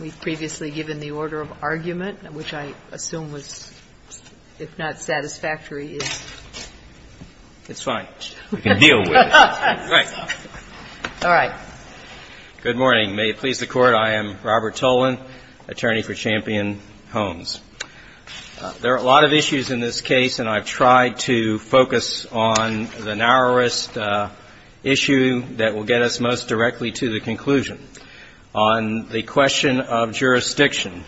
We've previously given the order of argument, which I assume was, if not satisfactory, is. It's fine. We can deal with it. All right. Good morning. May it please the Court, I am Robert Tolan, attorney for Champion Homes. There are a lot of issues in this case, and I've tried to focus on the narrowest issue that will get us most directly to the conclusion. On the question of jurisdiction,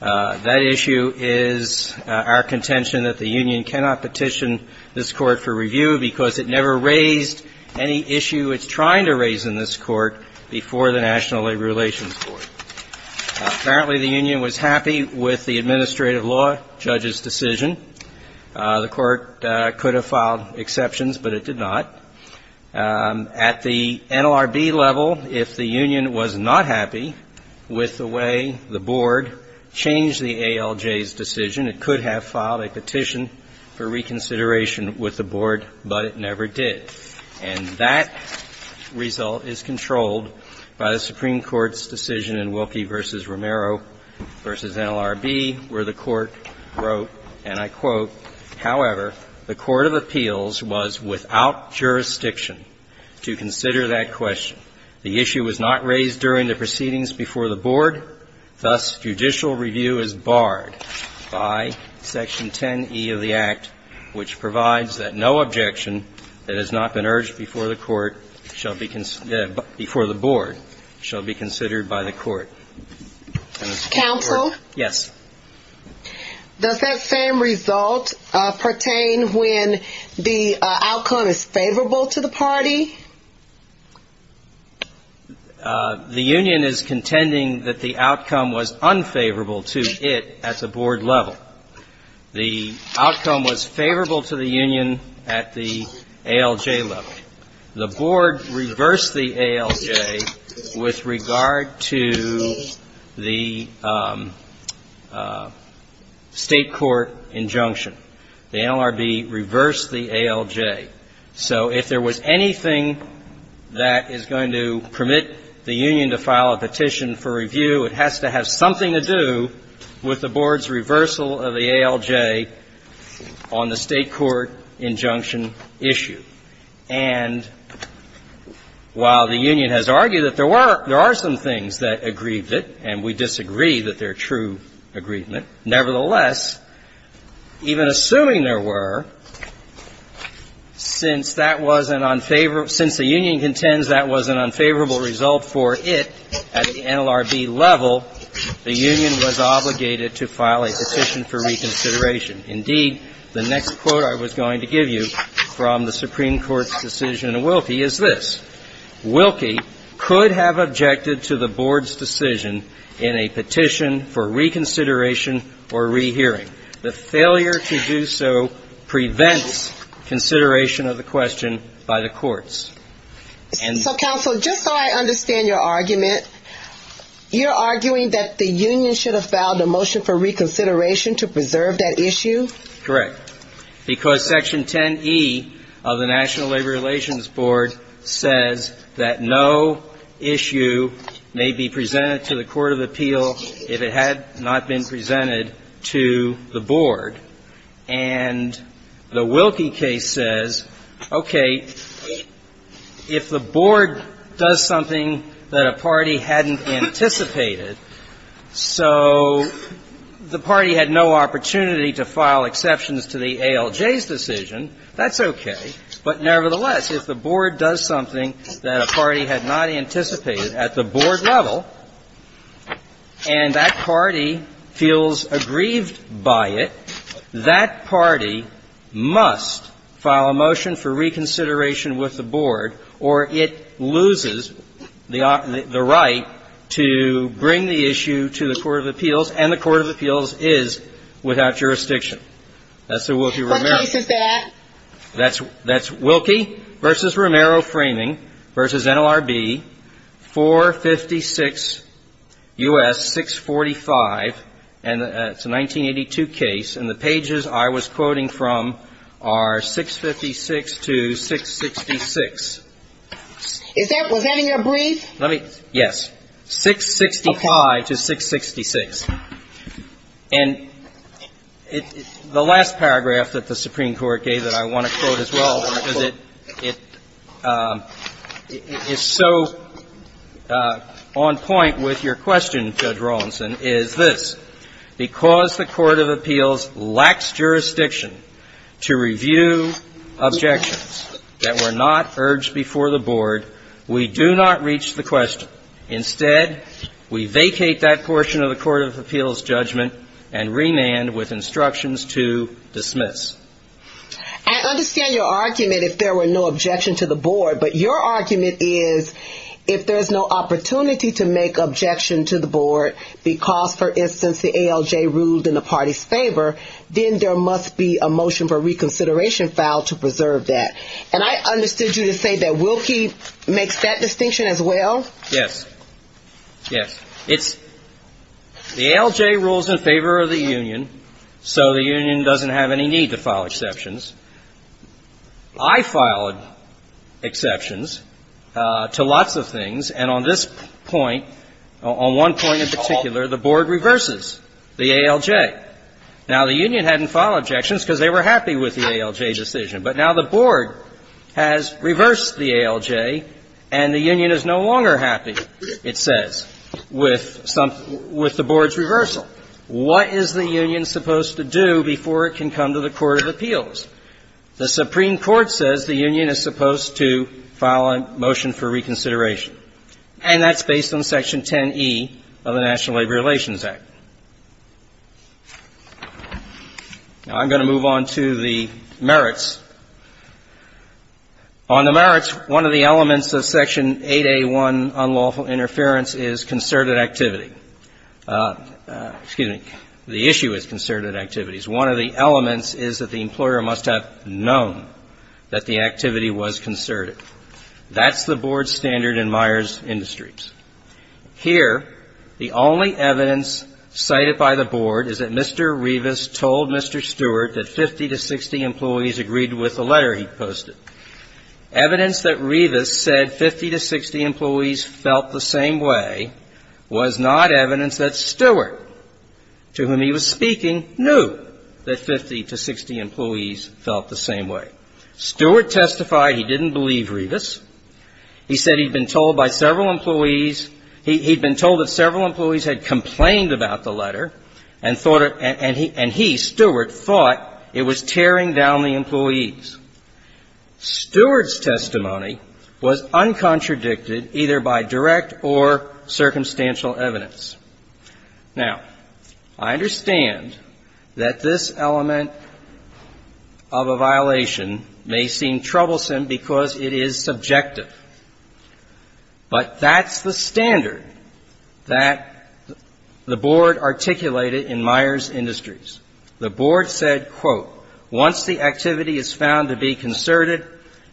that issue is our contention that the union cannot petition this Court for review because it never raised any issue it's trying to raise in this Court before the National Labor Relations Court. Apparently, the union was happy with the administrative law judge's decision. The Court could have filed exceptions, but it did not. At the NLRB level, if the union was not happy with the way the board changed the ALJ's decision, it could have filed a petition for reconsideration with the board, but it never did. And that result is controlled by the Supreme Court's decision in Wilkie v. Romero v. NLRB, where the Court wrote, and I quote, ''However, the court of appeals was without jurisdiction to consider that question. The issue was not raised during the proceedings before the board. Thus, judicial review is barred by Section 10e of the Act, which provides that no objection that has not been urged before the court shall be considered before the board shall be considered by the court.'' Counsel? Yes. Does that same result pertain when the outcome is favorable to the party? The union is contending that the outcome was unfavorable to it at the board level. The outcome was favorable to the union at the ALJ level. The board reversed the ALJ with regard to the State court injunction. The NLRB reversed the ALJ. So if there was anything that is going to permit the union to file a petition for review, it has to have something to do with the board's reversal of the ALJ on the State court injunction issue. And while the union has argued that there were – there are some things that aggrieve it, and we disagree that they're true aggrievement, nevertheless, even assuming there were, since that was an unfavorable – since the union contends that was an unfavorable result for it at the NLRB level, the union was obligated to file a petition for reconsideration. And indeed, the next quote I was going to give you from the Supreme Court's decision in Wilkie is this, Wilkie could have objected to the board's decision in a petition for reconsideration or rehearing. The failure to do so prevents consideration of the question by the courts. So, counsel, just so I understand your argument, you're arguing that the union should have filed a motion for reconsideration to preserve that issue? Correct. Because Section 10E of the National Labor Relations Board says that no issue may be presented to the court of appeal if it had not been presented to the board. And the Wilkie case says, okay, if the board does something that a party hadn't anticipated, so the party had no opportunity to file exceptions to the ALJ's decision, that's okay. But nevertheless, if the board does something that a party had not anticipated at the board level and that party feels aggrieved by it, that party must file a motion for reconsideration with the board, or it loses the right to bring the board to the court of appeals and the court of appeals is without jurisdiction. That's the Wilkie-Romero case. What case is that? That's Wilkie v. Romero Framing v. NLRB, 456 U.S. 645, and it's a 1982 case, and the pages I was quoting from are 656 to 666. Is that, was that in your brief? Let me, yes. 665 to 666. And the last paragraph that the Supreme Court gave that I want to quote as well, because it is so on point with your question, Judge Rawlinson, is this. Because the court of appeals lacks jurisdiction to review objections that were not urged before the board, we do not reach the question. Instead, we vacate that portion of the court of appeals judgment and remand with instructions to dismiss. I understand your argument if there were no objection to the board, but your argument is if there's no opportunity to make objection to the board because, for instance, the ALJ ruled in the party's favor, then there must be a motion for reconsideration filed to preserve that. And I understood you to say that Wilkie makes that distinction as well? Yes. Yes. It's, the ALJ rules in favor of the union, so the union doesn't have any need to file exceptions. I filed exceptions to lots of things, and on this point, on one point in particular, the board reverses the ALJ. Now the union hadn't filed objections because they were happy with the ALJ decision, but now the board has reversed the ALJ and the union is no longer happy, it says, with the board's reversal. What is the union supposed to do before it can come to the court of appeals? The Supreme Court says the union is supposed to file a motion for reconsideration, and that's based on Section 10e of the National Labor Relations Act. Now, I'm going to move on to the merits. On the merits, one of the elements of Section 8A1, unlawful interference, is concerted activity. Excuse me. The issue is concerted activities. One of the elements is that the employer must have known that the activity was concerted. That's the board standard in Myers Industries. Here, the only evidence cited by the board is that Mr. Rivas told Mr. Stewart that 50 to 60 employees agreed with the letter he posted. Evidence that Rivas said 50 to 60 employees felt the same way was not evidence that Stewart, to whom he was speaking, knew that 50 to 60 employees felt the same way. Stewart testified he didn't believe Rivas. He said he'd been told by several employees he'd been told that several employees had complained about the letter and thought it and he, Stewart, thought it was tearing down the employees. Stewart's testimony was uncontradicted either by direct or circumstantial evidence. Now, I understand that this element of a violation may seem troublesome because it is subjective, but that's the standard that the board articulated in Myers Industries. The board said, quote, once the activity is found to be concerted,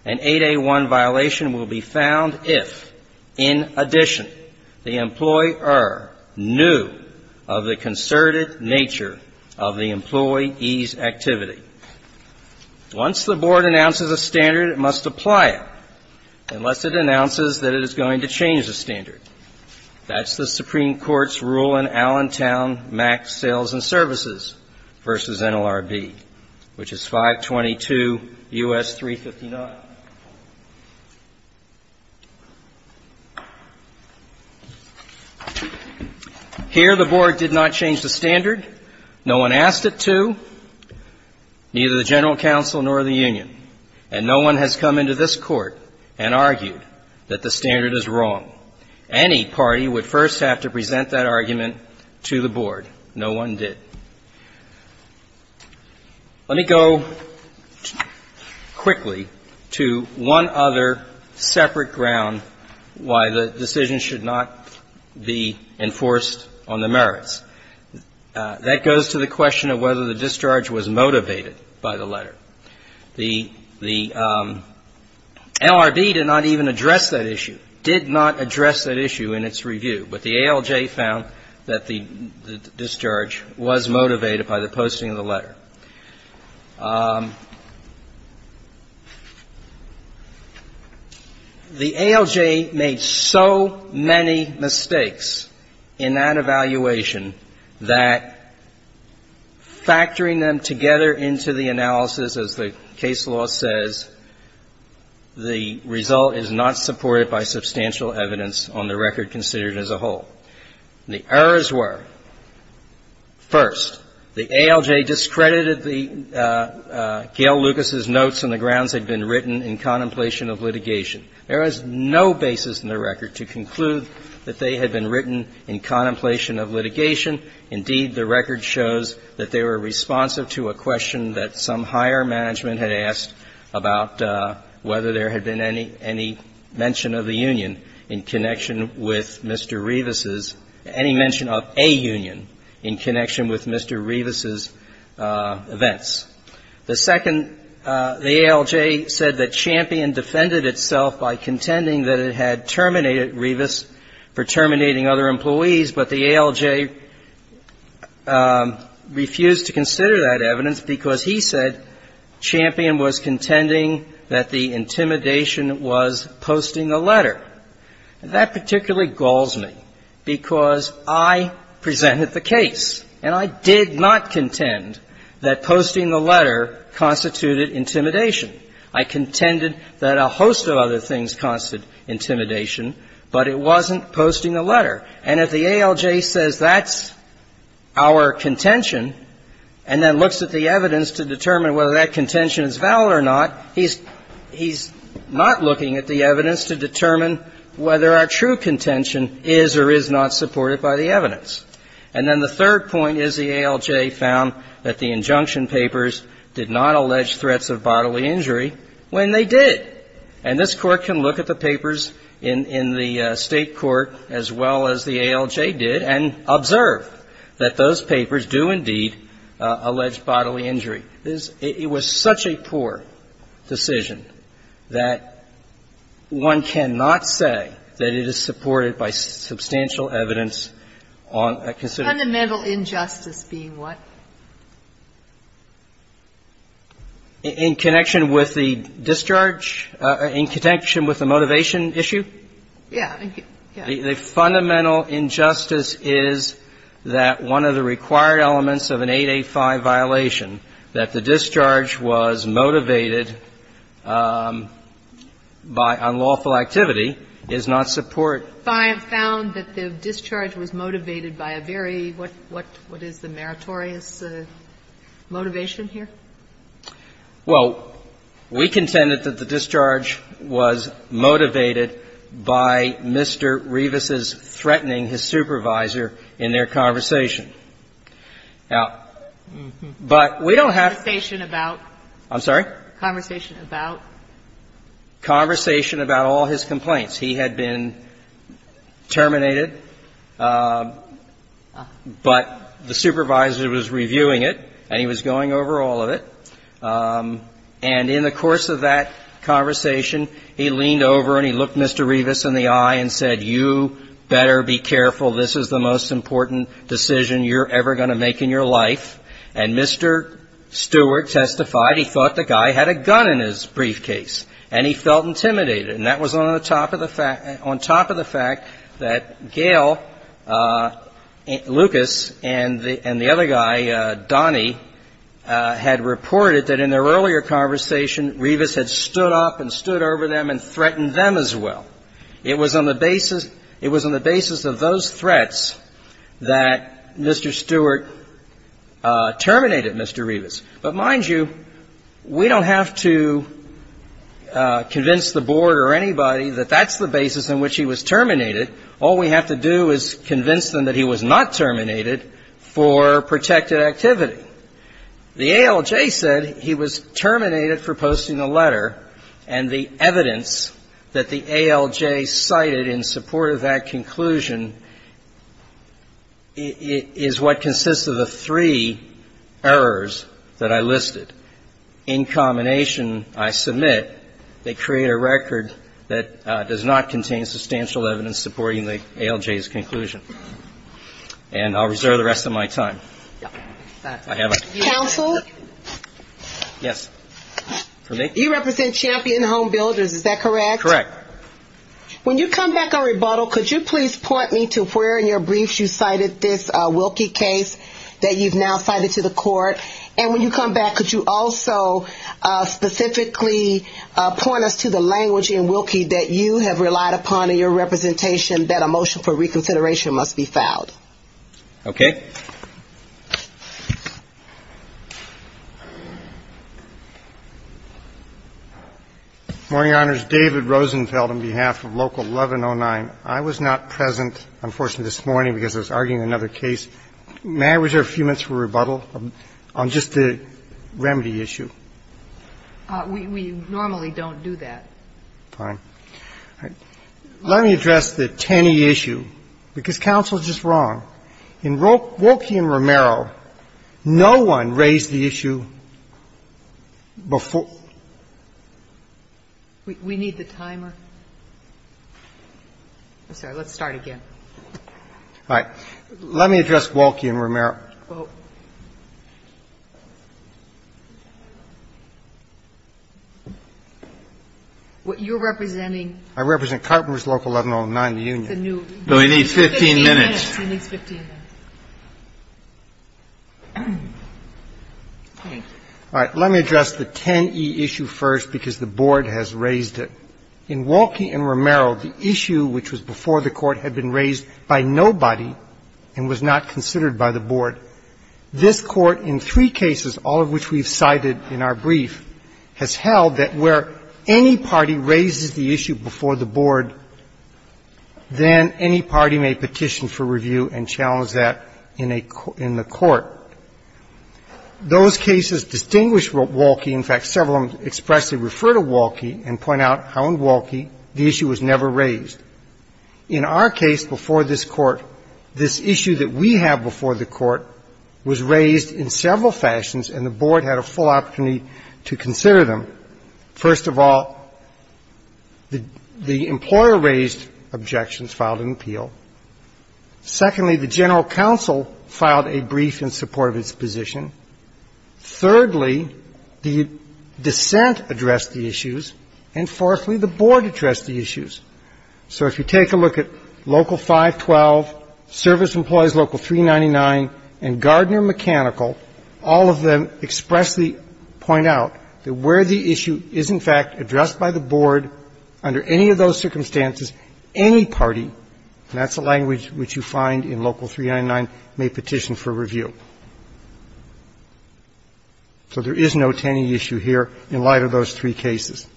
an 8A1 violation will be found if, in addition, the employer knew of the concerted nature of the employee's activity. Once the board announces a standard, it must apply it, unless it announces that it is going to change the standard. That's the Supreme Court's rule in Allentown Max Sales and Services v. NLRB, which is 522 U.S. 359. Here, the board did not change the standard. No one asked it to. Neither the general counsel nor the union. And no one has come into this Court and argued that the standard is wrong. Any party would first have to present that argument to the board. No one did. Let me go quickly to one other separate ground why the decision should not be enforced on the merits. The ALJ found that the discharge was motivated by the posting of the letter. The LRB did not even address that issue, did not address that issue in its review. But the ALJ found that the discharge was motivated by the posting of the letter. The ALJ made so many mistakes in that evaluation that factoring them together into the analysis, as the case law says, the result is not supported by substantial evidence on the record considered as a whole. The errors were, first, the ALJ discredited the Gayle Lucas' notes on the grounds they'd been written in contemplation of litigation. There is no basis in the record to conclude that they had been written in contemplation of litigation. Indeed, the record shows that they were responsive to a question that some higher management had asked about whether there had been any mention of the union in connection with Mr. Rivas' – any mention of a union in connection with Mr. Rivas' events. The second, the ALJ said that Champion defended itself by contending that it had terminated Rivas for terminating other employees. But the ALJ refused to consider that evidence because he said Champion was contending that the intimidation was posting the letter. That particularly galls me because I presented the case, and I did not contend that posting the letter constituted intimidation. I contended that a host of other things constituted intimidation, but it wasn't posting the letter. And if the ALJ says that's our contention and then looks at the evidence to determine whether that contention is valid or not, he's not looking at the evidence to determine whether our true contention is or is not supported by the evidence. And then the third point is the ALJ found that the injunction papers did not allege threats of bodily injury when they did. And this Court can look at the papers in the State court as well as the ALJ did and observe that those papers do indeed allege bodily injury. It was such a poor decision that one cannot say that it is supported by substantial evidence on a consideration. Fundamental injustice being what? In connection with the discharge or in connection with the motivation issue? Yeah. The fundamental injustice is that one of the required elements of an 885 violation, that the discharge was motivated by unlawful activity, is not support. So the ALJ found that the discharge was motivated by a very, what is the meritorious motivation here? Well, we contended that the discharge was motivated by Mr. Revis's threatening his supervisor in their conversation. Now, but we don't have to say that. Conversation about? I'm sorry? Conversation about? Conversation about all his complaints. He had been terminated, but the supervisor was reviewing it and he was going over all of it. And in the course of that conversation, he leaned over and he looked Mr. Revis in the eye and said, you better be careful, this is the most important decision you're ever going to make in your life. And Mr. Stewart testified he thought the guy had a gun in his briefcase and he felt intimidated. And that was on top of the fact that Gail Lucas and the other guy, Donnie, had reported that in their earlier conversation, Revis had stood up and stood over them and threatened them as well. It was on the basis of those threats that Mr. Stewart terminated Mr. Revis. But mind you, we don't have to convince the Board or anybody that that's the basis on which he was terminated. All we have to do is convince them that he was not terminated for protected activity. The ALJ said he was terminated for posting a letter. And the evidence that the ALJ cited in support of that conclusion is what consists of the three errors that I listed in combination, I submit, they create a record that does not contain substantial evidence supporting the ALJ's conclusion. And I'll reserve the rest of my time. I have a question. Counsel? Yes. For me? You represent Champion Home Builders, is that correct? Correct. When you come back on rebuttal, could you please point me to where in your briefs you cited this Wilkie case that you've now cited to the court? And when you come back, could you also specifically point us to the language in Wilkie that you have relied upon in your representation that a motion for reconsideration must be filed? Okay. Morning, Your Honors. David Rosenfeld on behalf of Local 1109. I was not present, unfortunately, this morning because I was arguing another case. May I reserve a few minutes for rebuttal on just the remedy issue? We normally don't do that. Fine. Let me address the Tenney issue, because counsel is just wrong. In Wilkie and Romero, no one raised the issue before we need the timer. Let's start again. All right. Let me address Wilkie and Romero. You're representing? I represent Carpenter's Local 1109, the union. We need 15 minutes. Yes, we need 15 minutes. All right. Let me address the Tenney issue first, because the Board has raised it. In Wilkie and Romero, the issue which was before the Court had been raised by nobody and was not considered by the Board. This Court, in three cases, all of which we've cited in our brief, has held that where any party raises the issue before the Board, then any party may petition for review and challenge that in a co — in the Court. Those cases distinguish Wilkie. In fact, several of them expressly refer to Wilkie and point out how in Wilkie the issue was never raised. In our case, before this Court, this issue that we have before the Court was raised in several fashions, and the Board had a full opportunity to consider them. First of all, the employer raised objections, filed an appeal. Secondly, the general counsel filed a brief in support of its position. Thirdly, the dissent addressed the issues. And fourthly, the Board addressed the issues. So if you take a look at Local 512, Service Employees Local 399, and Gardner Mechanical, all of them expressly point out that where the issue is, in fact, addressed by the Board under any of those circumstances, any party, and that's a language which you find in Local 399, may petition for review. So there is no Tenney issue here in light of those three cases.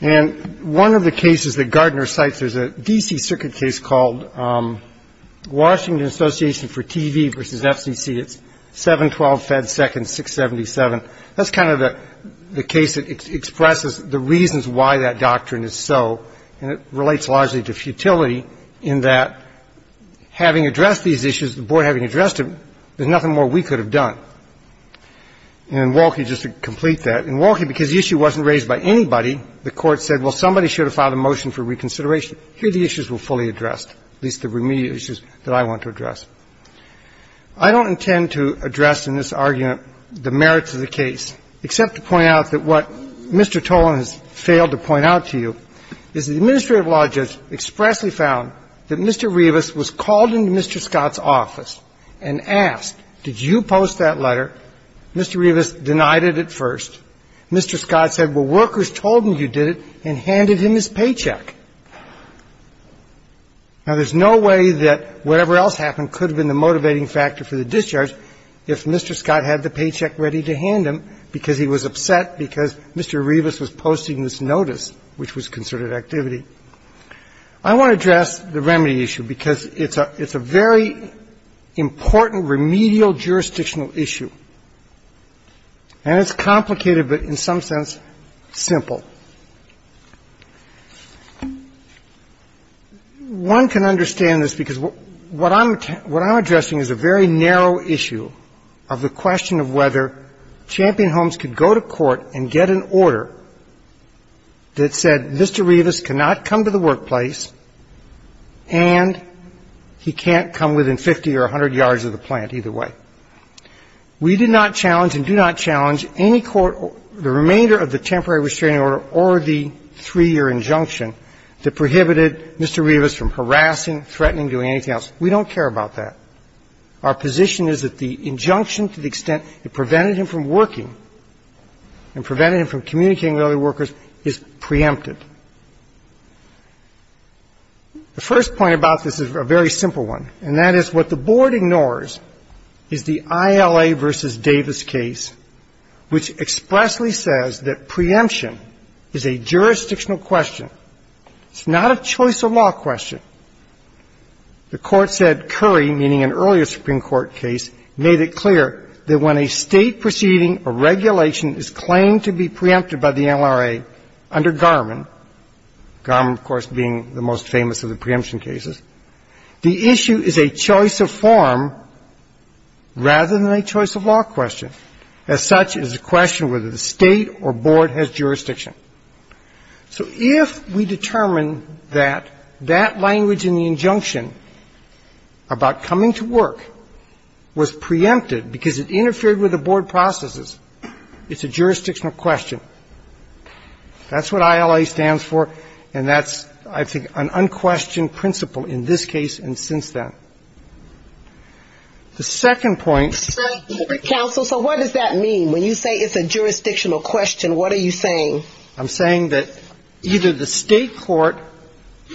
And one of the cases that Gardner cites is a D.C. Circuit case called Washington Association for TV v. FCC. It's 712 Fed Seconds 677. That's kind of the case that expresses the reasons why that doctrine is so, and it relates largely to futility in that having addressed these issues, the Board having addressed them, there's nothing more we could have done. And in Wolke, just to complete that, in Wolke, because the issue wasn't raised by anybody, the Court said, well, somebody should have filed a motion for reconsideration. And the Court said, here, the issues were fully addressed, at least the remediate issues that I want to address. I don't intend to address in this argument the merits of the case, except to point out that what Mr. Tolan has failed to point out to you is the administrative law judge expressly found that Mr. Rivas was called into Mr. Scott's office and asked, did you post that letter? Mr. Rivas denied it at first. Mr. Scott said, well, workers told him you did it, and handed him his paycheck. Now, there's no way that whatever else happened could have been the motivating factor for the discharge if Mr. Scott had the paycheck ready to hand him because he was upset because Mr. Rivas was posting this notice, which was concerted activity. I want to address the remedy issue because it's a very important remedial jurisdictional issue, and it's complicated, but in some sense simple. One can understand this because what I'm addressing is a very narrow issue of the question of whether Champion Homes could go to court and get an order that said Mr. Rivas cannot come to the workplace, and he can't come within 50 or 100 yards of the plant either way. We did not challenge and do not challenge any court or the remainder of the temporary restraining order or the three-year injunction that prohibited Mr. Rivas from harassing, threatening, doing anything else. We don't care about that. Our position is that the injunction to the extent it prevented him from working and prevented him from communicating with other workers is preempted. The first point about this is a very simple one, and that is what the Board ignores is the ILA v. Davis case, which expressly says that preemption is a jurisdictional question. It's not a choice of law question. The Court said Curry, meaning an earlier Supreme Court case, made it clear that when a State proceeding or regulation is claimed to be preempted by the NRA under Garmin – Garmin, of course, being the most famous of the preemption cases – the issue is a choice of form rather than a choice of law question. As such, it is a question whether the State or Board has jurisdiction. So if we determine that that language in the injunction about coming to work was preempted because it interfered with the Board processes, it's a jurisdictional question. That's what ILA stands for, and that's, I think, an unquestioned principle in this case, then. The second point – But, counsel, so what does that mean? When you say it's a jurisdictional question, what are you saying? I'm saying that either the State court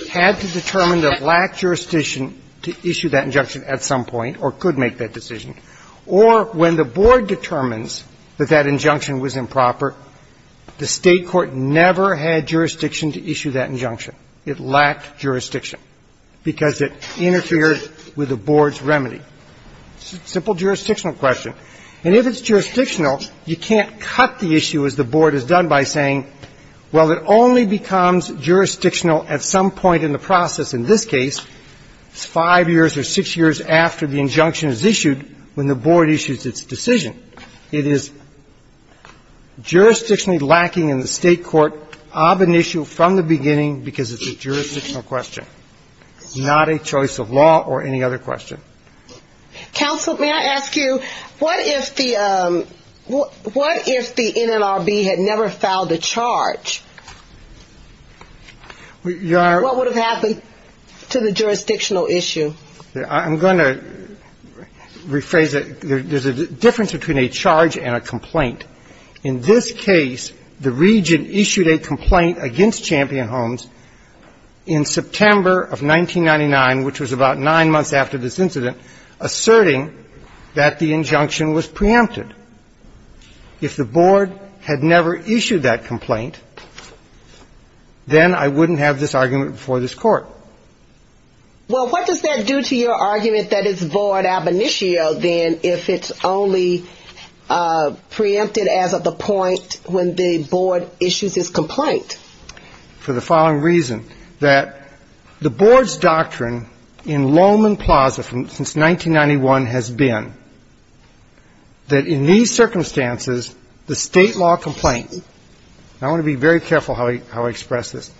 had to determine that it lacked jurisdiction to issue that injunction at some point or could make that decision, or when the Board determines that that injunction was improper, the State court never had jurisdiction to issue that injunction. It lacked jurisdiction because it interfered with the Board's remedy. It's a simple jurisdictional question. And if it's jurisdictional, you can't cut the issue, as the Board has done, by saying, well, it only becomes jurisdictional at some point in the process. In this case, it's five years or six years after the injunction is issued when the Board issues its decision. It is jurisdictionally lacking in the State court of an issue from the beginning because it's a jurisdictional question, not a choice of law or any other question. Counsel, may I ask you, what if the NLRB had never filed a charge? What would have happened to the jurisdictional issue? I'm going to rephrase that. There's a difference between a charge and a complaint. In this case, the region issued a complaint against Champion Homes in September of 1999, which was about nine months after this incident, asserting that the injunction was preempted. If the Board had never issued that complaint, then I wouldn't have this argument before this Court. Well, what does that do to your argument that it's Board ab initio, then, if it's only preempted as of the point when the Board issues its complaint? For the following reason, that the Board's doctrine in Lowman Plaza since 1991 has been that in these circumstances, the State law complaint, and I want to be very careful how I express this,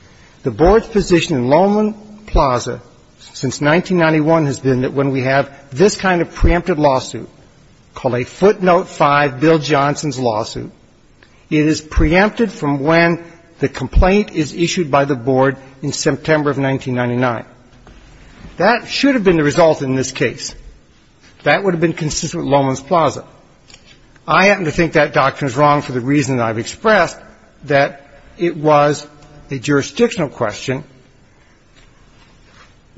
the Board's position in Lowman Plaza since 1991 has been that when we have this kind of preempted lawsuit, called a footnote 5 Bill Johnson's lawsuit, it is preempted from when the complaint is issued by the Board in September of 1999. That should have been the result in this case. That would have been consistent with Lowman's Plaza. I happen to think that doctrine is wrong for the reason that I've expressed, that it was a jurisdictional question,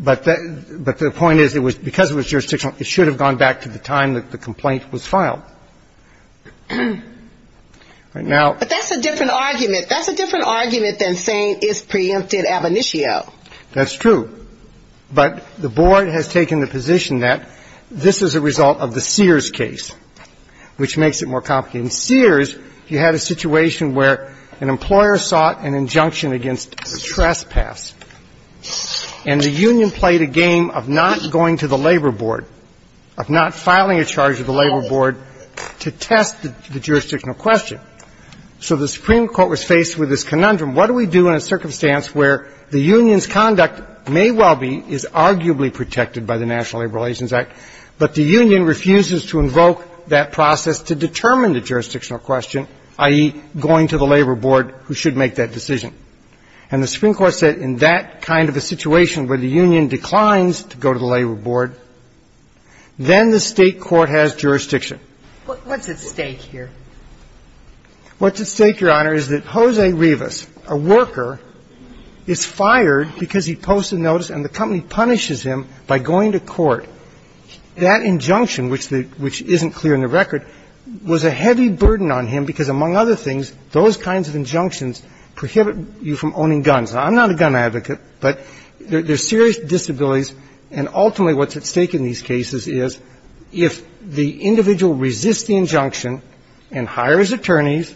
but the point is it was preempted. Because it was jurisdictional, it should have gone back to the time that the complaint was filed. Now ---- But that's a different argument. That's a different argument than saying it's preempted ab initio. That's true. But the Board has taken the position that this is a result of the Sears case, which makes it more complicated. In Sears, you had a situation where an employer sought an injunction against a trespass, and the union played a game of not going to the labor board, of not filing a charge of the labor board to test the jurisdictional question. So the Supreme Court was faced with this conundrum. What do we do in a circumstance where the union's conduct may well be, is arguably protected by the National Labor Relations Act, but the union refuses to invoke that process to determine the jurisdictional question, i.e., going to the labor board who should make that decision? And the Supreme Court said in that kind of a situation where the union declines to go to the labor board, then the State court has jurisdiction. What's at stake here? What's at stake, Your Honor, is that Jose Rivas, a worker, is fired because he posted notice and the company punishes him by going to court. That injunction, which isn't clear in the record, was a heavy burden on him because, among other things, those kinds of injunctions prohibit you from owning guns. Now, I'm not a gun advocate, but there's serious disabilities, and ultimately what's at stake in these cases is if the individual resists the injunction and hires attorneys,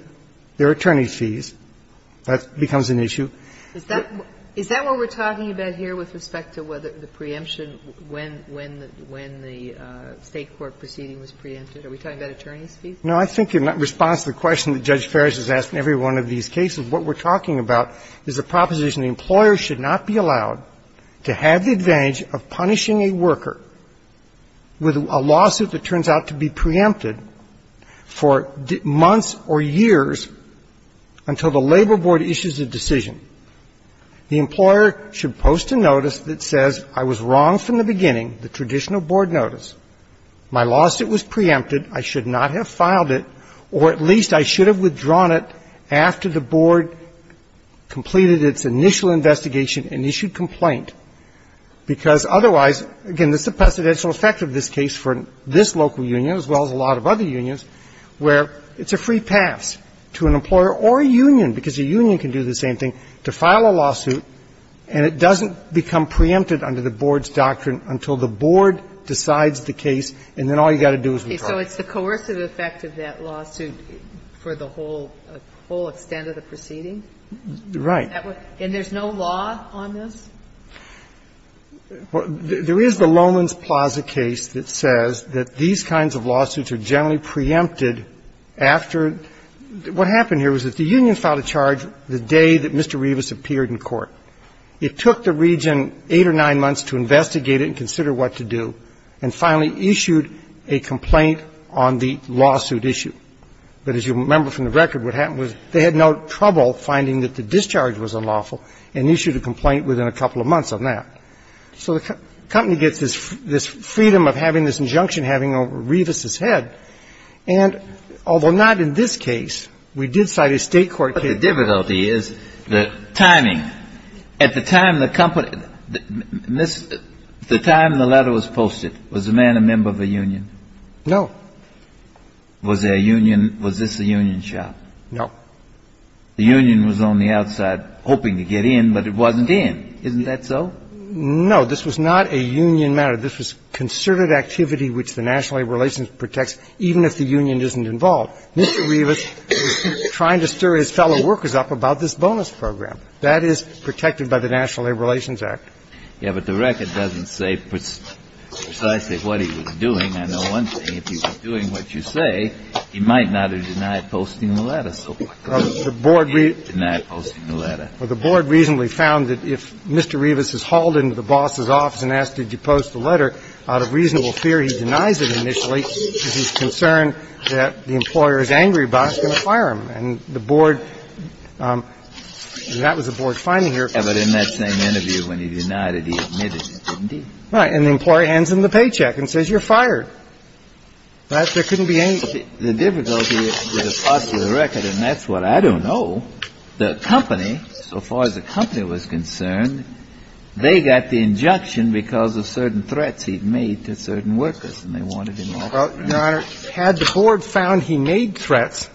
there are attorney fees. That becomes an issue. Is that what we're talking about here with respect to whether the preemption when the State court proceeding was preempted? Are we talking about attorney's fees? No, I think in response to the question that Judge Farris has asked in every one of these cases, what we're talking about is the proposition the employer should not be allowed to have the advantage of punishing a worker with a lawsuit that turns out to be preempted for months or years until the labor board issues a decision. The employer should post a notice that says, I was wrong from the beginning, the traditional board notice, my lawsuit was preempted, I should not have filed it, or at least I should have withdrawn it after the board completed its initial investigation and issued complaint, because otherwise, again, this is a precedential effect of this case for this local union as well as a lot of other unions, where it's a free pass to an employer or a union, because a union can do the same thing, to file a lawsuit and it doesn't become preempted under the board's doctrine until the board decides the case and then all you've got to do is withdraw. So it's the coercive effect of that lawsuit for the whole extent of the proceeding? Right. And there's no law on this? There is the Lowman's Plaza case that says that these kinds of lawsuits are generally preempted after the union filed a charge the day that Mr. Revis appeared in court. It took the region 8 or 9 months to investigate it and consider what to do, and finally issued a complaint on the lawsuit issue. But as you remember from the record, what happened was they had no trouble finding that the discharge was unlawful and issued a complaint within a couple of months on that. So the company gets this freedom of having this injunction, having Revis's head, and although not in this case, we did cite a state court case. The difficulty is the timing. At the time the company – the time the letter was posted, was the man a member of a union? No. Was there a union – was this a union shop? No. The union was on the outside hoping to get in, but it wasn't in. Isn't that so? No. This was not a union matter. This was concerted activity which the National Labor Relations protects even if the union isn't involved. Mr. Revis was trying to stir his fellow workers up about this bonus program. That is protected by the National Labor Relations Act. Yeah, but the record doesn't say precisely what he was doing. I know one thing. If he was doing what you say, he might not have denied posting the letter. So why deny posting the letter? Well, the board reasonably found that if Mr. Revis is hauled into the boss's office and asked, did you post the letter, out of reasonable fear he denies it initially because he's concerned that the employer is angry about it, he's going to fire him. And the board – that was the board finding here. Yeah, but in that same interview when he denied it, he admitted it, didn't he? Right. And the employer hands him the paycheck and says, you're fired. Right? There couldn't be any – The difficulty with the post of the record, and that's what I don't know, the company, so far as the company was concerned, they got the injunction because of certain threats he'd made to certain workers, and they wanted him off. Well, Your Honor, had the board found he made threats,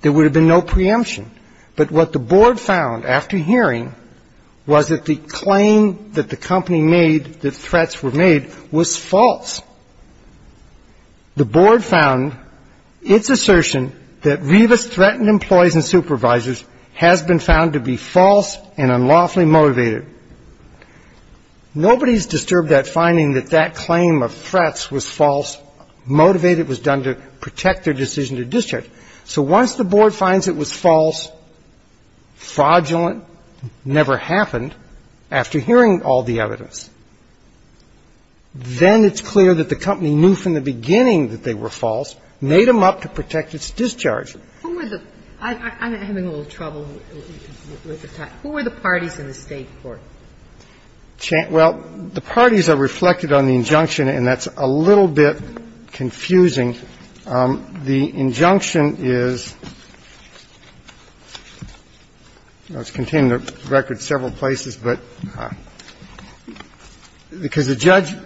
there would have been no preemption. But what the board found after hearing was that the claim that the company made that threats were made was false. The board found its assertion that Revis threatened employees and supervisors has been found to be false and unlawfully motivated. Nobody's disturbed at finding that that claim of threats was false, motivated, was done to protect their decision to discharge. So once the board finds it was false, fraudulent, never happened, after hearing all the evidence, then it's clear that the company knew from the beginning that they were false, made them up to protect its discharge. Who were the – I'm having a little trouble with the time. Who were the parties in the State court? Well, the parties are reflected on the injunction, and that's a little bit confusing. The injunction is – I was containing the record several places, but because the judge –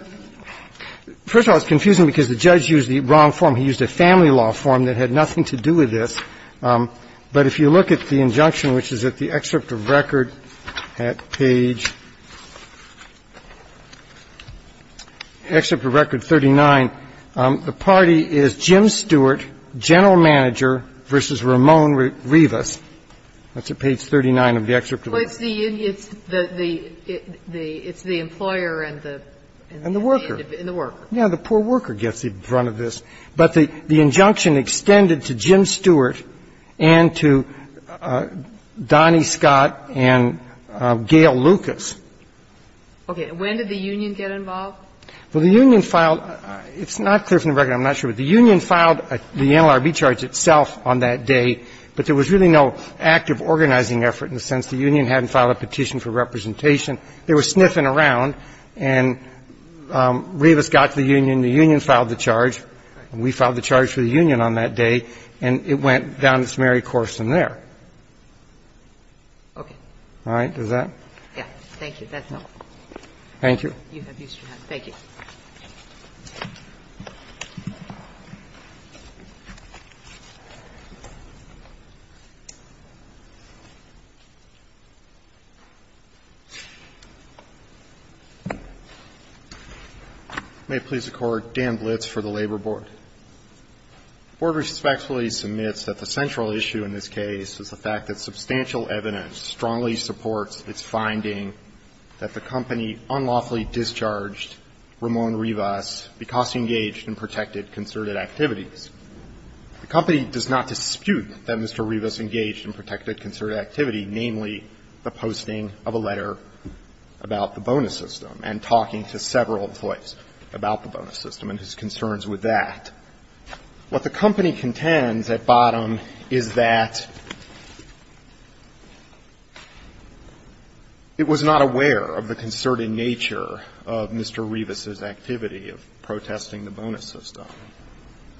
first of all, it's confusing because the judge used the wrong form. He used a family law form that had nothing to do with this. But if you look at the injunction, which is at the excerpt of record at page – excerpt of record 39, the party is Jim Stewart, general manager, versus Ramon Revis. That's at page 39 of the excerpt of record. Well, it's the – it's the employer and the – And the worker. And the worker. Yeah, the poor worker gets in front of this. But the injunction extended to Jim Stewart and to Donnie Scott and Gail Lucas. Okay. And when did the union get involved? Well, the union filed – it's not clear from the record. I'm not sure. But the union filed the NLRB charge itself on that day, but there was really no active organizing effort in the sense the union hadn't filed a petition for representation. They were sniffing around, and Revis got to the union. The union filed the charge. And we filed the charge for the union on that day, and it went down its merry course from there. Okay. All right. Does that? Yeah. Thank you. That's helpful. Thank you. You have used your hand. Thank you. May it please the Court, Dan Blitz for the Labor Board. The Board respectfully submits that the central issue in this case is the fact that Mr. Revis engaged in protected concerted activities, namely the posting of a letter about the bonus system and talking to several employees about the bonus system and his concerns with that. What the company contends at bottom is that it was not aware of the concerted nature of Mr. Revis's activity of protesting the bonus system.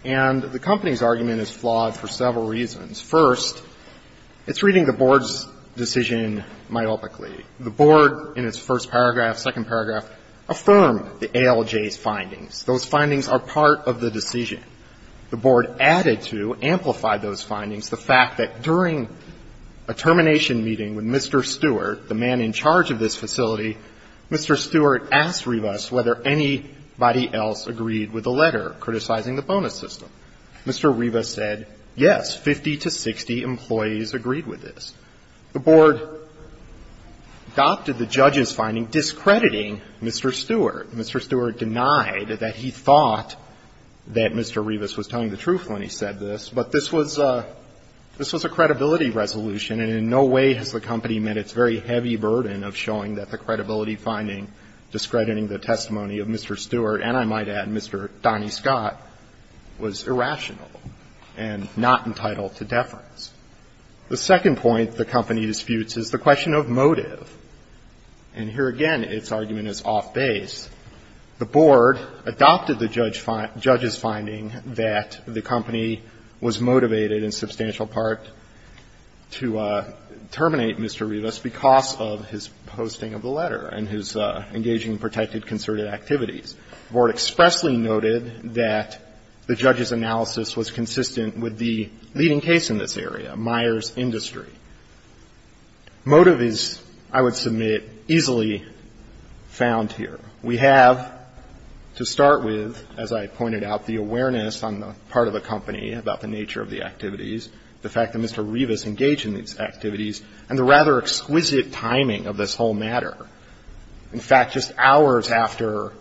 And the company's argument is flawed for several reasons. First, it's reading the Board's decision myopically. The Board in its first paragraph, second paragraph, affirmed the ALJ's findings. Those findings are part of the decision. The Board added to, amplified those findings, the fact that during a termination meeting with Mr. Stewart, the man in charge of this facility, Mr. Stewart asked Revis whether anybody else agreed with the letter criticizing the bonus system. Mr. Revis said, yes, 50 to 60 employees agreed with this. The Board adopted the judge's finding discrediting Mr. Stewart. Mr. Stewart denied that he thought that Mr. Revis was telling the truth when he said this, but this was a credibility resolution, and in no way has the company met its very heavy burden of showing that the credibility finding discrediting the testimony of Mr. Stewart, and I might add, Mr. Donnie Scott, was irrational and not entitled to deference. The second point the company disputes is the question of motive. And here again, its argument is off base. The Board adopted the judge's finding that the company was motivated in substantial part to terminate Mr. Revis because of his posting of the letter and his engaging in protected concerted activities. The Board expressly noted that the judge's analysis was consistent with the leading case in this area, Myers Industry. Motive is, I would submit, easily found here. We have, to start with, as I pointed out, the awareness on the part of the company about the nature of the activities, the fact that Mr. Revis engaged in these activities, and the rather exquisite timing of this whole matter. In fact, just hours after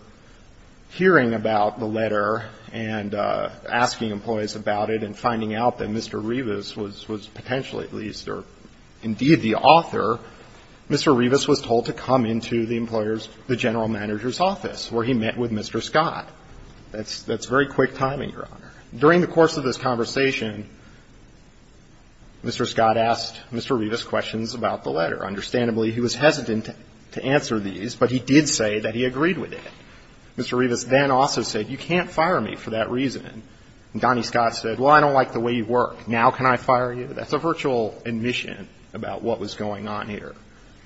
hearing about the letter and asking employees about it and finding out that Mr. Revis was potentially, at least, or indeed the author, Mr. Revis was told to come into the employer's, the general manager's office, where he met with Mr. Scott. That's very quick timing, Your Honor. During the course of this conversation, Mr. Scott asked Mr. Revis questions about the letter. Understandably, he was hesitant to answer these, but he did say that he agreed with it. Mr. Revis then also said, you can't fire me for that reason. And Donnie Scott said, well, I don't like the way you work. Now can I fire you? That's a virtual admission about what was going on here.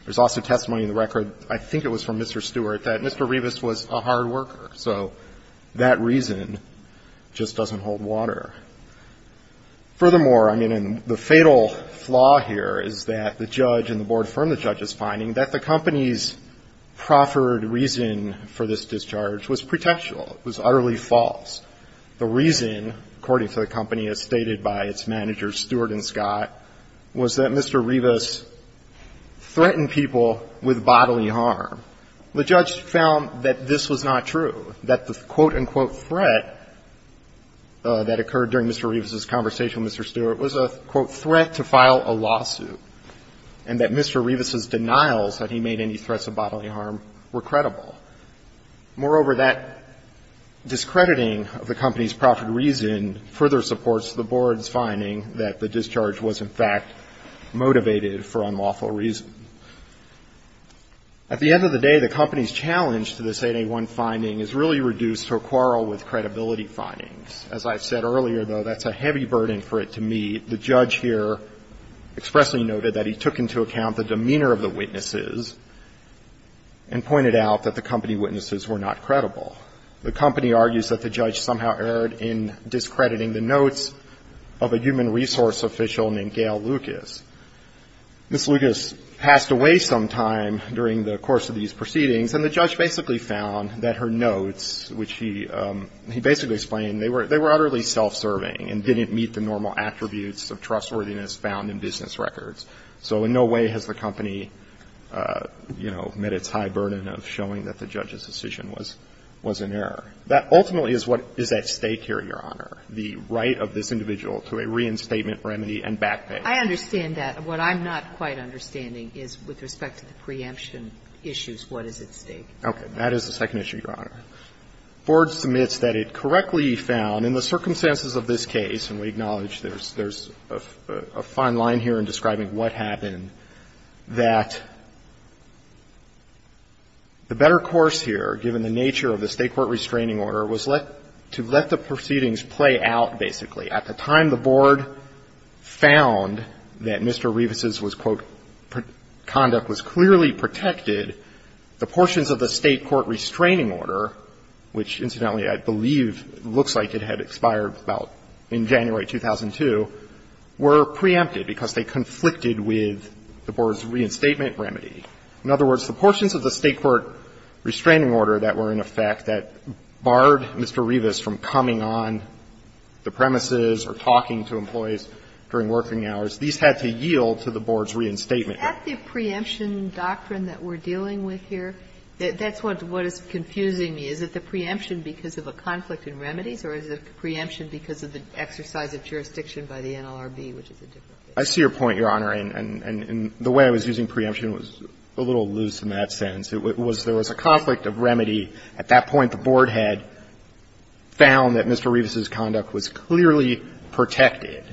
There's also testimony in the record, I think it was from Mr. Stewart, that Mr. Revis was a hard worker. So that reason just doesn't hold water. Furthermore, I mean, and the fatal flaw here is that the judge and the board affirmed the judge's finding that the company's proffered reason for this discharge was pretentious. It was utterly false. The reason, according to the company, as stated by its managers, Stewart and Scott, was that Mr. Revis threatened people with bodily harm. The judge found that this was not true, that the quote, unquote, threat that occurred during Mr. Revis's conversation with Mr. Stewart was a, quote, threat to file a lawsuit and that Mr. Revis's denials that he made any threats of bodily harm were credible. Moreover, that discrediting of the company's proffered reason further supports the board's finding that the discharge was, in fact, motivated for unlawful reason. At the end of the day, the company's challenge to this 881 finding is really reduced to a quarrel with credibility findings. As I've said earlier, though, that's a heavy burden for it to meet. The judge here expressly noted that he took into account the demeanor of the witnesses and pointed out that the company witnesses were not credible. The company argues that the judge somehow erred in discrediting the notes of a human resource official named Gail Lucas. Ms. Lucas passed away sometime during the course of these proceedings, and the judge basically found that her notes, which he basically explained, they were utterly self-serving and didn't meet the normal attributes of trustworthiness found in business records. So in no way has the company, you know, met its high burden of showing that the judge's note was an error. That ultimately is what is at stake here, Your Honor, the right of this individual to a reinstatement remedy and back pay. I understand that. What I'm not quite understanding is with respect to the preemption issues, what is at stake. Okay. That is the second issue, Your Honor. Ford submits that it correctly found in the circumstances of this case, and we acknowledge there's a fine line here in describing what happened, that the better course here, given the nature of the State court restraining order, was to let the proceedings play out, basically. At the time the Board found that Mr. Revis's was, quote, conduct was clearly protected, the portions of the State court restraining order, which incidentally I believe looks like it had expired about in January 2002, were preempted because they conflicted with the Board's reinstatement remedy. In other words, the portions of the State court restraining order that were in effect that barred Mr. Revis from coming on the premises or talking to employees during working hours, these had to yield to the Board's reinstatement. At the preemption doctrine that we're dealing with here, that's what is confusing me. Is it the preemption because of a conflict in remedies, or is it the preemption because of the exercise of jurisdiction by the NLRB, which is a different case? I see your point, Your Honor, and the way I was using preemption was a little loose in that sense. It was there was a conflict of remedy. At that point, the Board had found that Mr. Revis's conduct was clearly protected.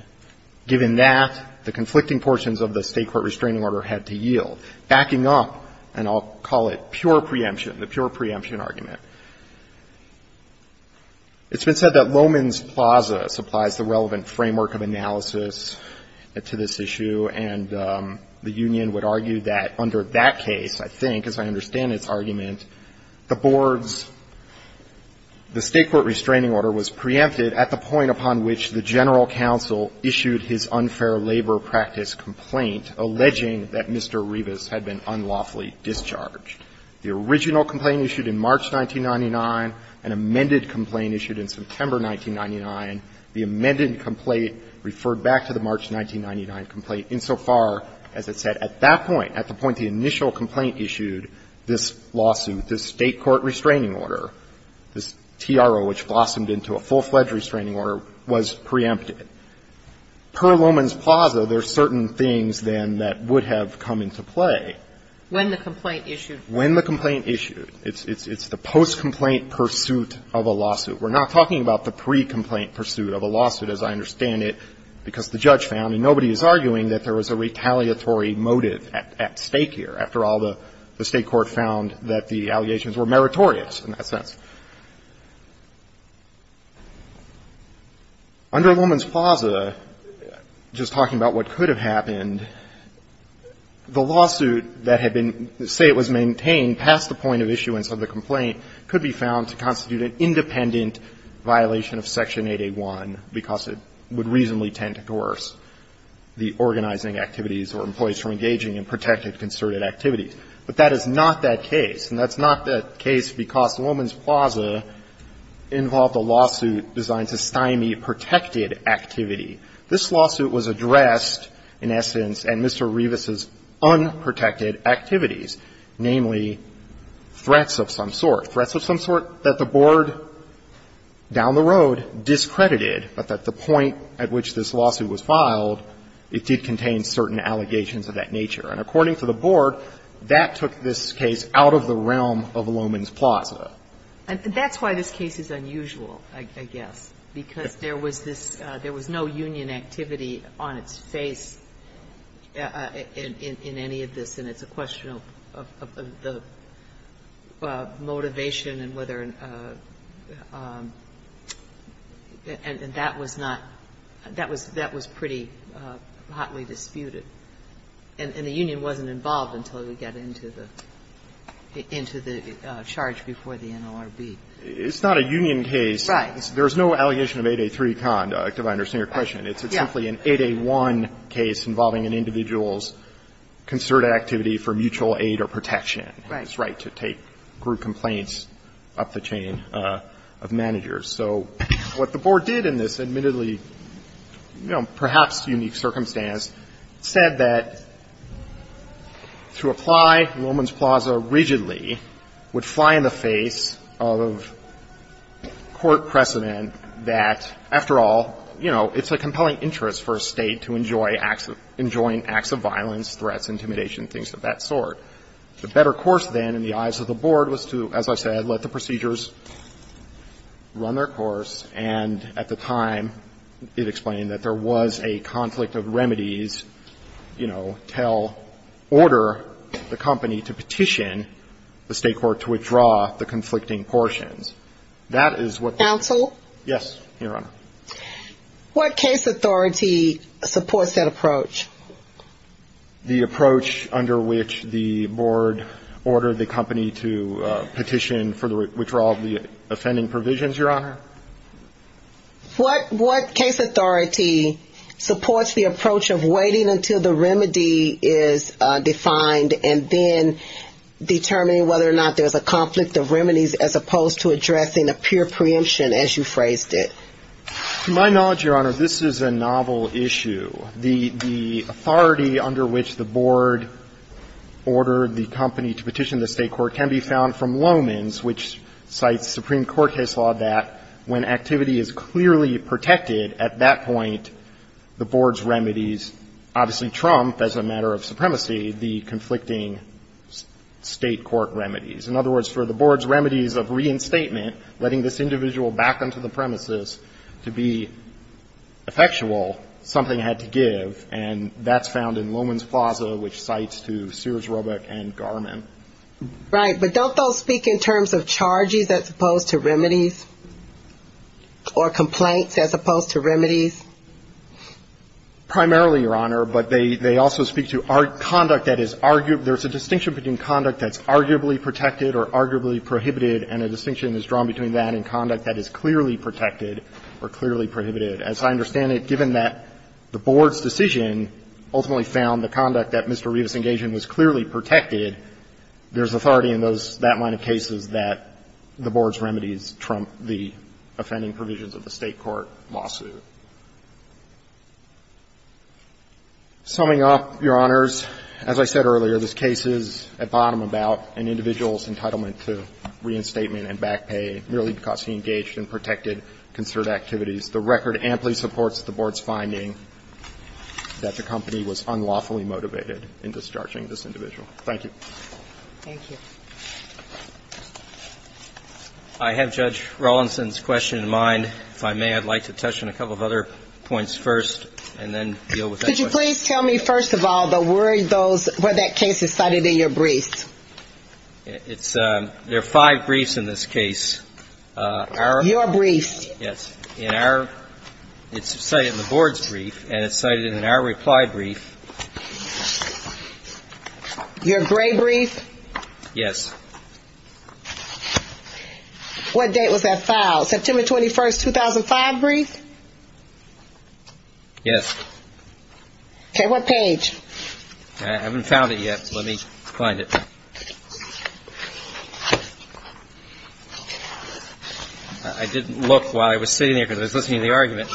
Given that, the conflicting portions of the State court restraining order had to yield, backing up, and I'll call it pure preemption, the pure preemption argument. It's been said that Lowman's Plaza supplies the relevant framework of analysis to this issue, and the union would argue that under that case, I think, as I understand its argument, the Board's the State court restraining order was preempted at the point upon which the general counsel issued his unfair labor practice complaint alleging that Mr. Revis had been unlawfully discharged. The original complaint issued in March 1999, an amended complaint issued in September 1999, the amended complaint referred back to the March 1999 complaint, insofar as it said at that point, at the point the initial complaint issued, this lawsuit, this State court restraining order, this TRO, which blossomed into a full-fledged restraining order, was preempted. Per Lowman's Plaza, there are certain things, then, that would have come into play. When the complaint issued. When the complaint issued. It's the post-complaint pursuit of a lawsuit. We're not talking about the pre-complaint pursuit of a lawsuit, as I understand it, because the judge found, and nobody is arguing, that there was a retaliatory motive at stake here. After all, the State court found that the allegations were meritorious in that sense. Under Lowman's Plaza, just talking about what could have happened, the lawsuit that had been say it was maintained past the point of issuance of the complaint could be found to constitute an independent violation of Section 8A1 because it would reasonably tend to coerce the organizing activities or employees from engaging in protected concerted activities. But that is not that case, and that's not that case because Lowman's Plaza involved a lawsuit designed to stymie protected activity. This lawsuit was addressed, in essence, in Mr. Rivas' unprotected activities, namely, threats of some sort. Threats of some sort that the Board, down the road, discredited, but at the point at which this lawsuit was filed, it did contain certain allegations of that nature. And according to the Board, that took this case out of the realm of Lowman's Plaza. And that's why this case is unusual, I guess, because there was this – there was no union activity on its face in any of this, and it's a question of the motivation and whether – and that was not – that was – that was pretty hotly disputed. And the union wasn't involved until it got into the – into the charge before the NLRB. It's not a union case. Right. There's no allegation of 8A3 conduct, if I understand your question. It's simply an 8A1 case involving an individual's concerted activity for mutual aid or protection. Right. It's right to take group complaints up the chain of managers. So what the Board did in this admittedly, you know, perhaps unique circumstance said that to apply Lowman's Plaza rigidly would fly in the face of court precedent that, after all, you know, it's a compelling interest for a State to enjoy acts of – enjoying acts of violence, threats, intimidation, things of that sort. The better course, then, in the eyes of the Board was to, as I said, let the procedures run their course. And at the time, it explained that there was a conflict of remedies, you know, tell – order the company to petition the State court to withdraw the conflicting portions. That is what the – Counsel? Yes, Your Honor. What case authority supports that approach? The approach under which the Board ordered the company to petition for the withdrawal of the offending provisions, Your Honor. What case authority supports the approach of waiting until the remedy is defined and then determining whether or not there's a conflict of remedies as opposed to addressing a pure preemption as you phrased it? To my knowledge, Your Honor, this is a novel issue. The authority under which the Board ordered the company to petition the State court can be found from Lowman's, which cites Supreme Court case law that when activity is clearly protected, at that point, the Board's remedies obviously trump, as a matter of supremacy, the conflicting State court remedies. In other words, for the Board's remedies of reinstatement, letting this individual back onto the premises to be effectual, something had to give, and that's found in Lowman's Plaza, which cites to Sears, Roebuck, and Garmin. Right. But don't those speak in terms of charges as opposed to remedies or complaints as opposed to remedies? Primarily, Your Honor, but they also speak to conduct that is – there's a distinction between conduct that's arguably protected or arguably prohibited, and a distinction is drawn between that and conduct that is clearly protected or clearly prohibited. As I understand it, given that the Board's decision ultimately found the conduct that Mr. Rivas engaged in was clearly protected, there's authority in those – that line of cases that the Board's remedies trump the offending provisions of the State court lawsuit. Summing up, Your Honors, as I said earlier, this case is at bottom about an individual's entitlement to reinstatement and back pay merely because he engaged in protected concerted activities. The record amply supports the Board's finding that the company was unlawfully motivated in discharging this individual. Thank you. I have Judge Rawlinson's question in mind. If I may, I'd like to touch on a couple of other points first and then deal with that. Could you please tell me, first of all, where that case is cited in your brief? There are five briefs in this case. Your brief. Yes. It's cited in the Board's brief and it's cited in our reply brief. Your gray brief? Yes. What date was that filed? September 21st, 2005 brief? Yes. Okay, what page? I haven't found it yet. Let me find it. I didn't look while I was sitting there because I was listening to the argument.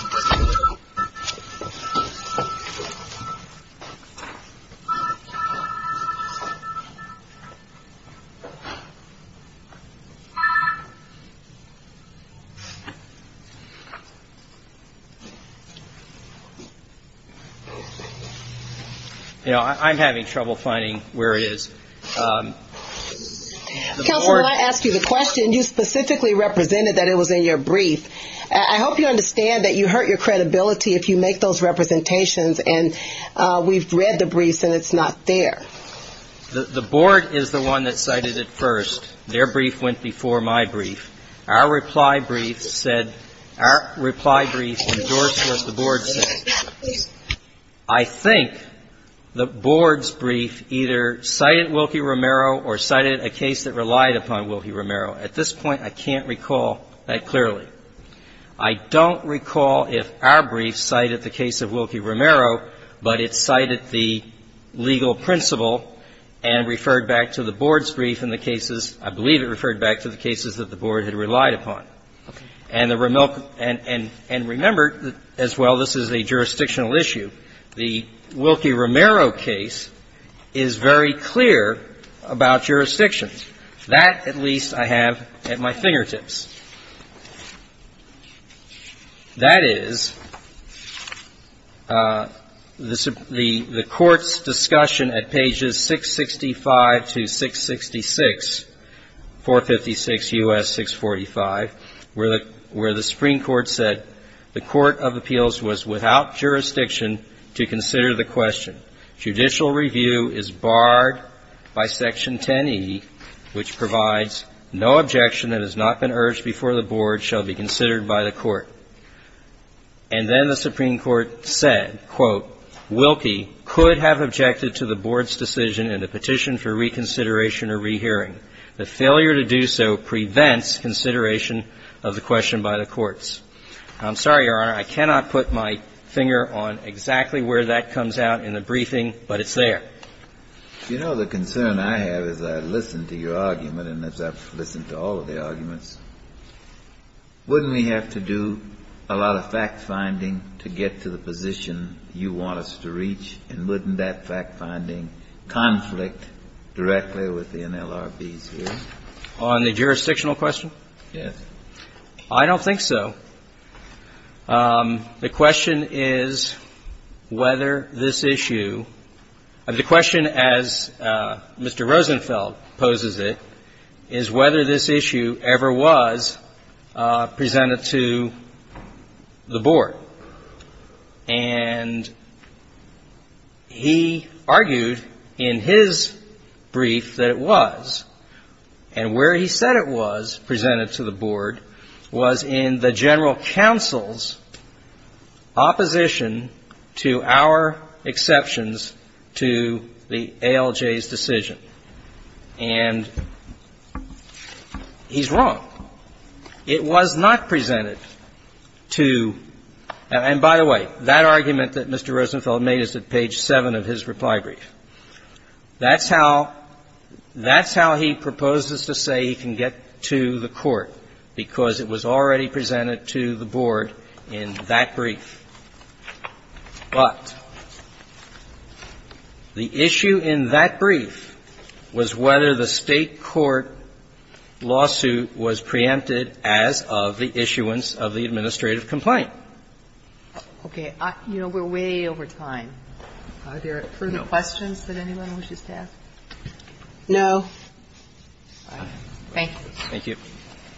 You know, I'm having trouble finding where it is. Counselor, when I asked you the question, you specifically represented that it was in your brief. I hope you understand that you hurt your credibility if you make those representations and we've read the briefs and it's not there. The Board is the one that cited it first. Our reply brief is the one that was cited first. Our reply brief endorsed what the Board said. I think the Board's brief either cited Wilkie Romero or cited a case that relied upon Wilkie Romero. At this point, I can't recall that clearly. I don't recall if our brief cited the case of Wilkie Romero, but it cited the legal principle and referred back to the Board's brief in the cases, I believe it referred back to the cases that the Board had relied upon. And remember as well, this is a jurisdictional issue. The Wilkie Romero case is very clear about jurisdictions. That, at least, I have at my fingertips. That is, the Court's discussion at pages 665 to 666, 456 U.S. 645, where the Supreme Court said the Court of Appeals was without jurisdiction to consider the question. Judicial review is barred by Section 10E, which provides no objection that has not been urged before the Board shall be considered by the Court. And then the Supreme Court said, quote, Wilkie could have objected to the Board's decision in the petition for reconsideration or rehearing. The failure to do so prevents consideration of the question by the courts. I'm sorry, Your Honor, I cannot put my finger on exactly where that comes out in the briefing, but it's there. You know, the concern I have as I listen to your argument and as I've listened to all of the arguments, wouldn't we have to do a lot of fact-finding to get to the On the jurisdictional question? Yes. I don't think so. The question is whether this issue, the question as Mr. Rosenfeld poses it, is whether this issue ever was presented to the Board. And he argued in his brief that it was. And where he said it was presented to the Board was in the General Counsel's opposition to our exceptions to the ALJ's decision. And he's wrong. It was not presented to – and by the way, that argument that Mr. Rosenfeld made is at page 7 of his reply brief. That's how – that's how he proposes to say he can get to the Court, because it was already presented to the Board in that brief. But the issue in that brief was whether the State court lawsuit was preempted as of the issuance of the administrative complaint. Okay. You know, we're way over time. Are there further questions that anyone wishes to ask? No. All right. Thank you. Thank you.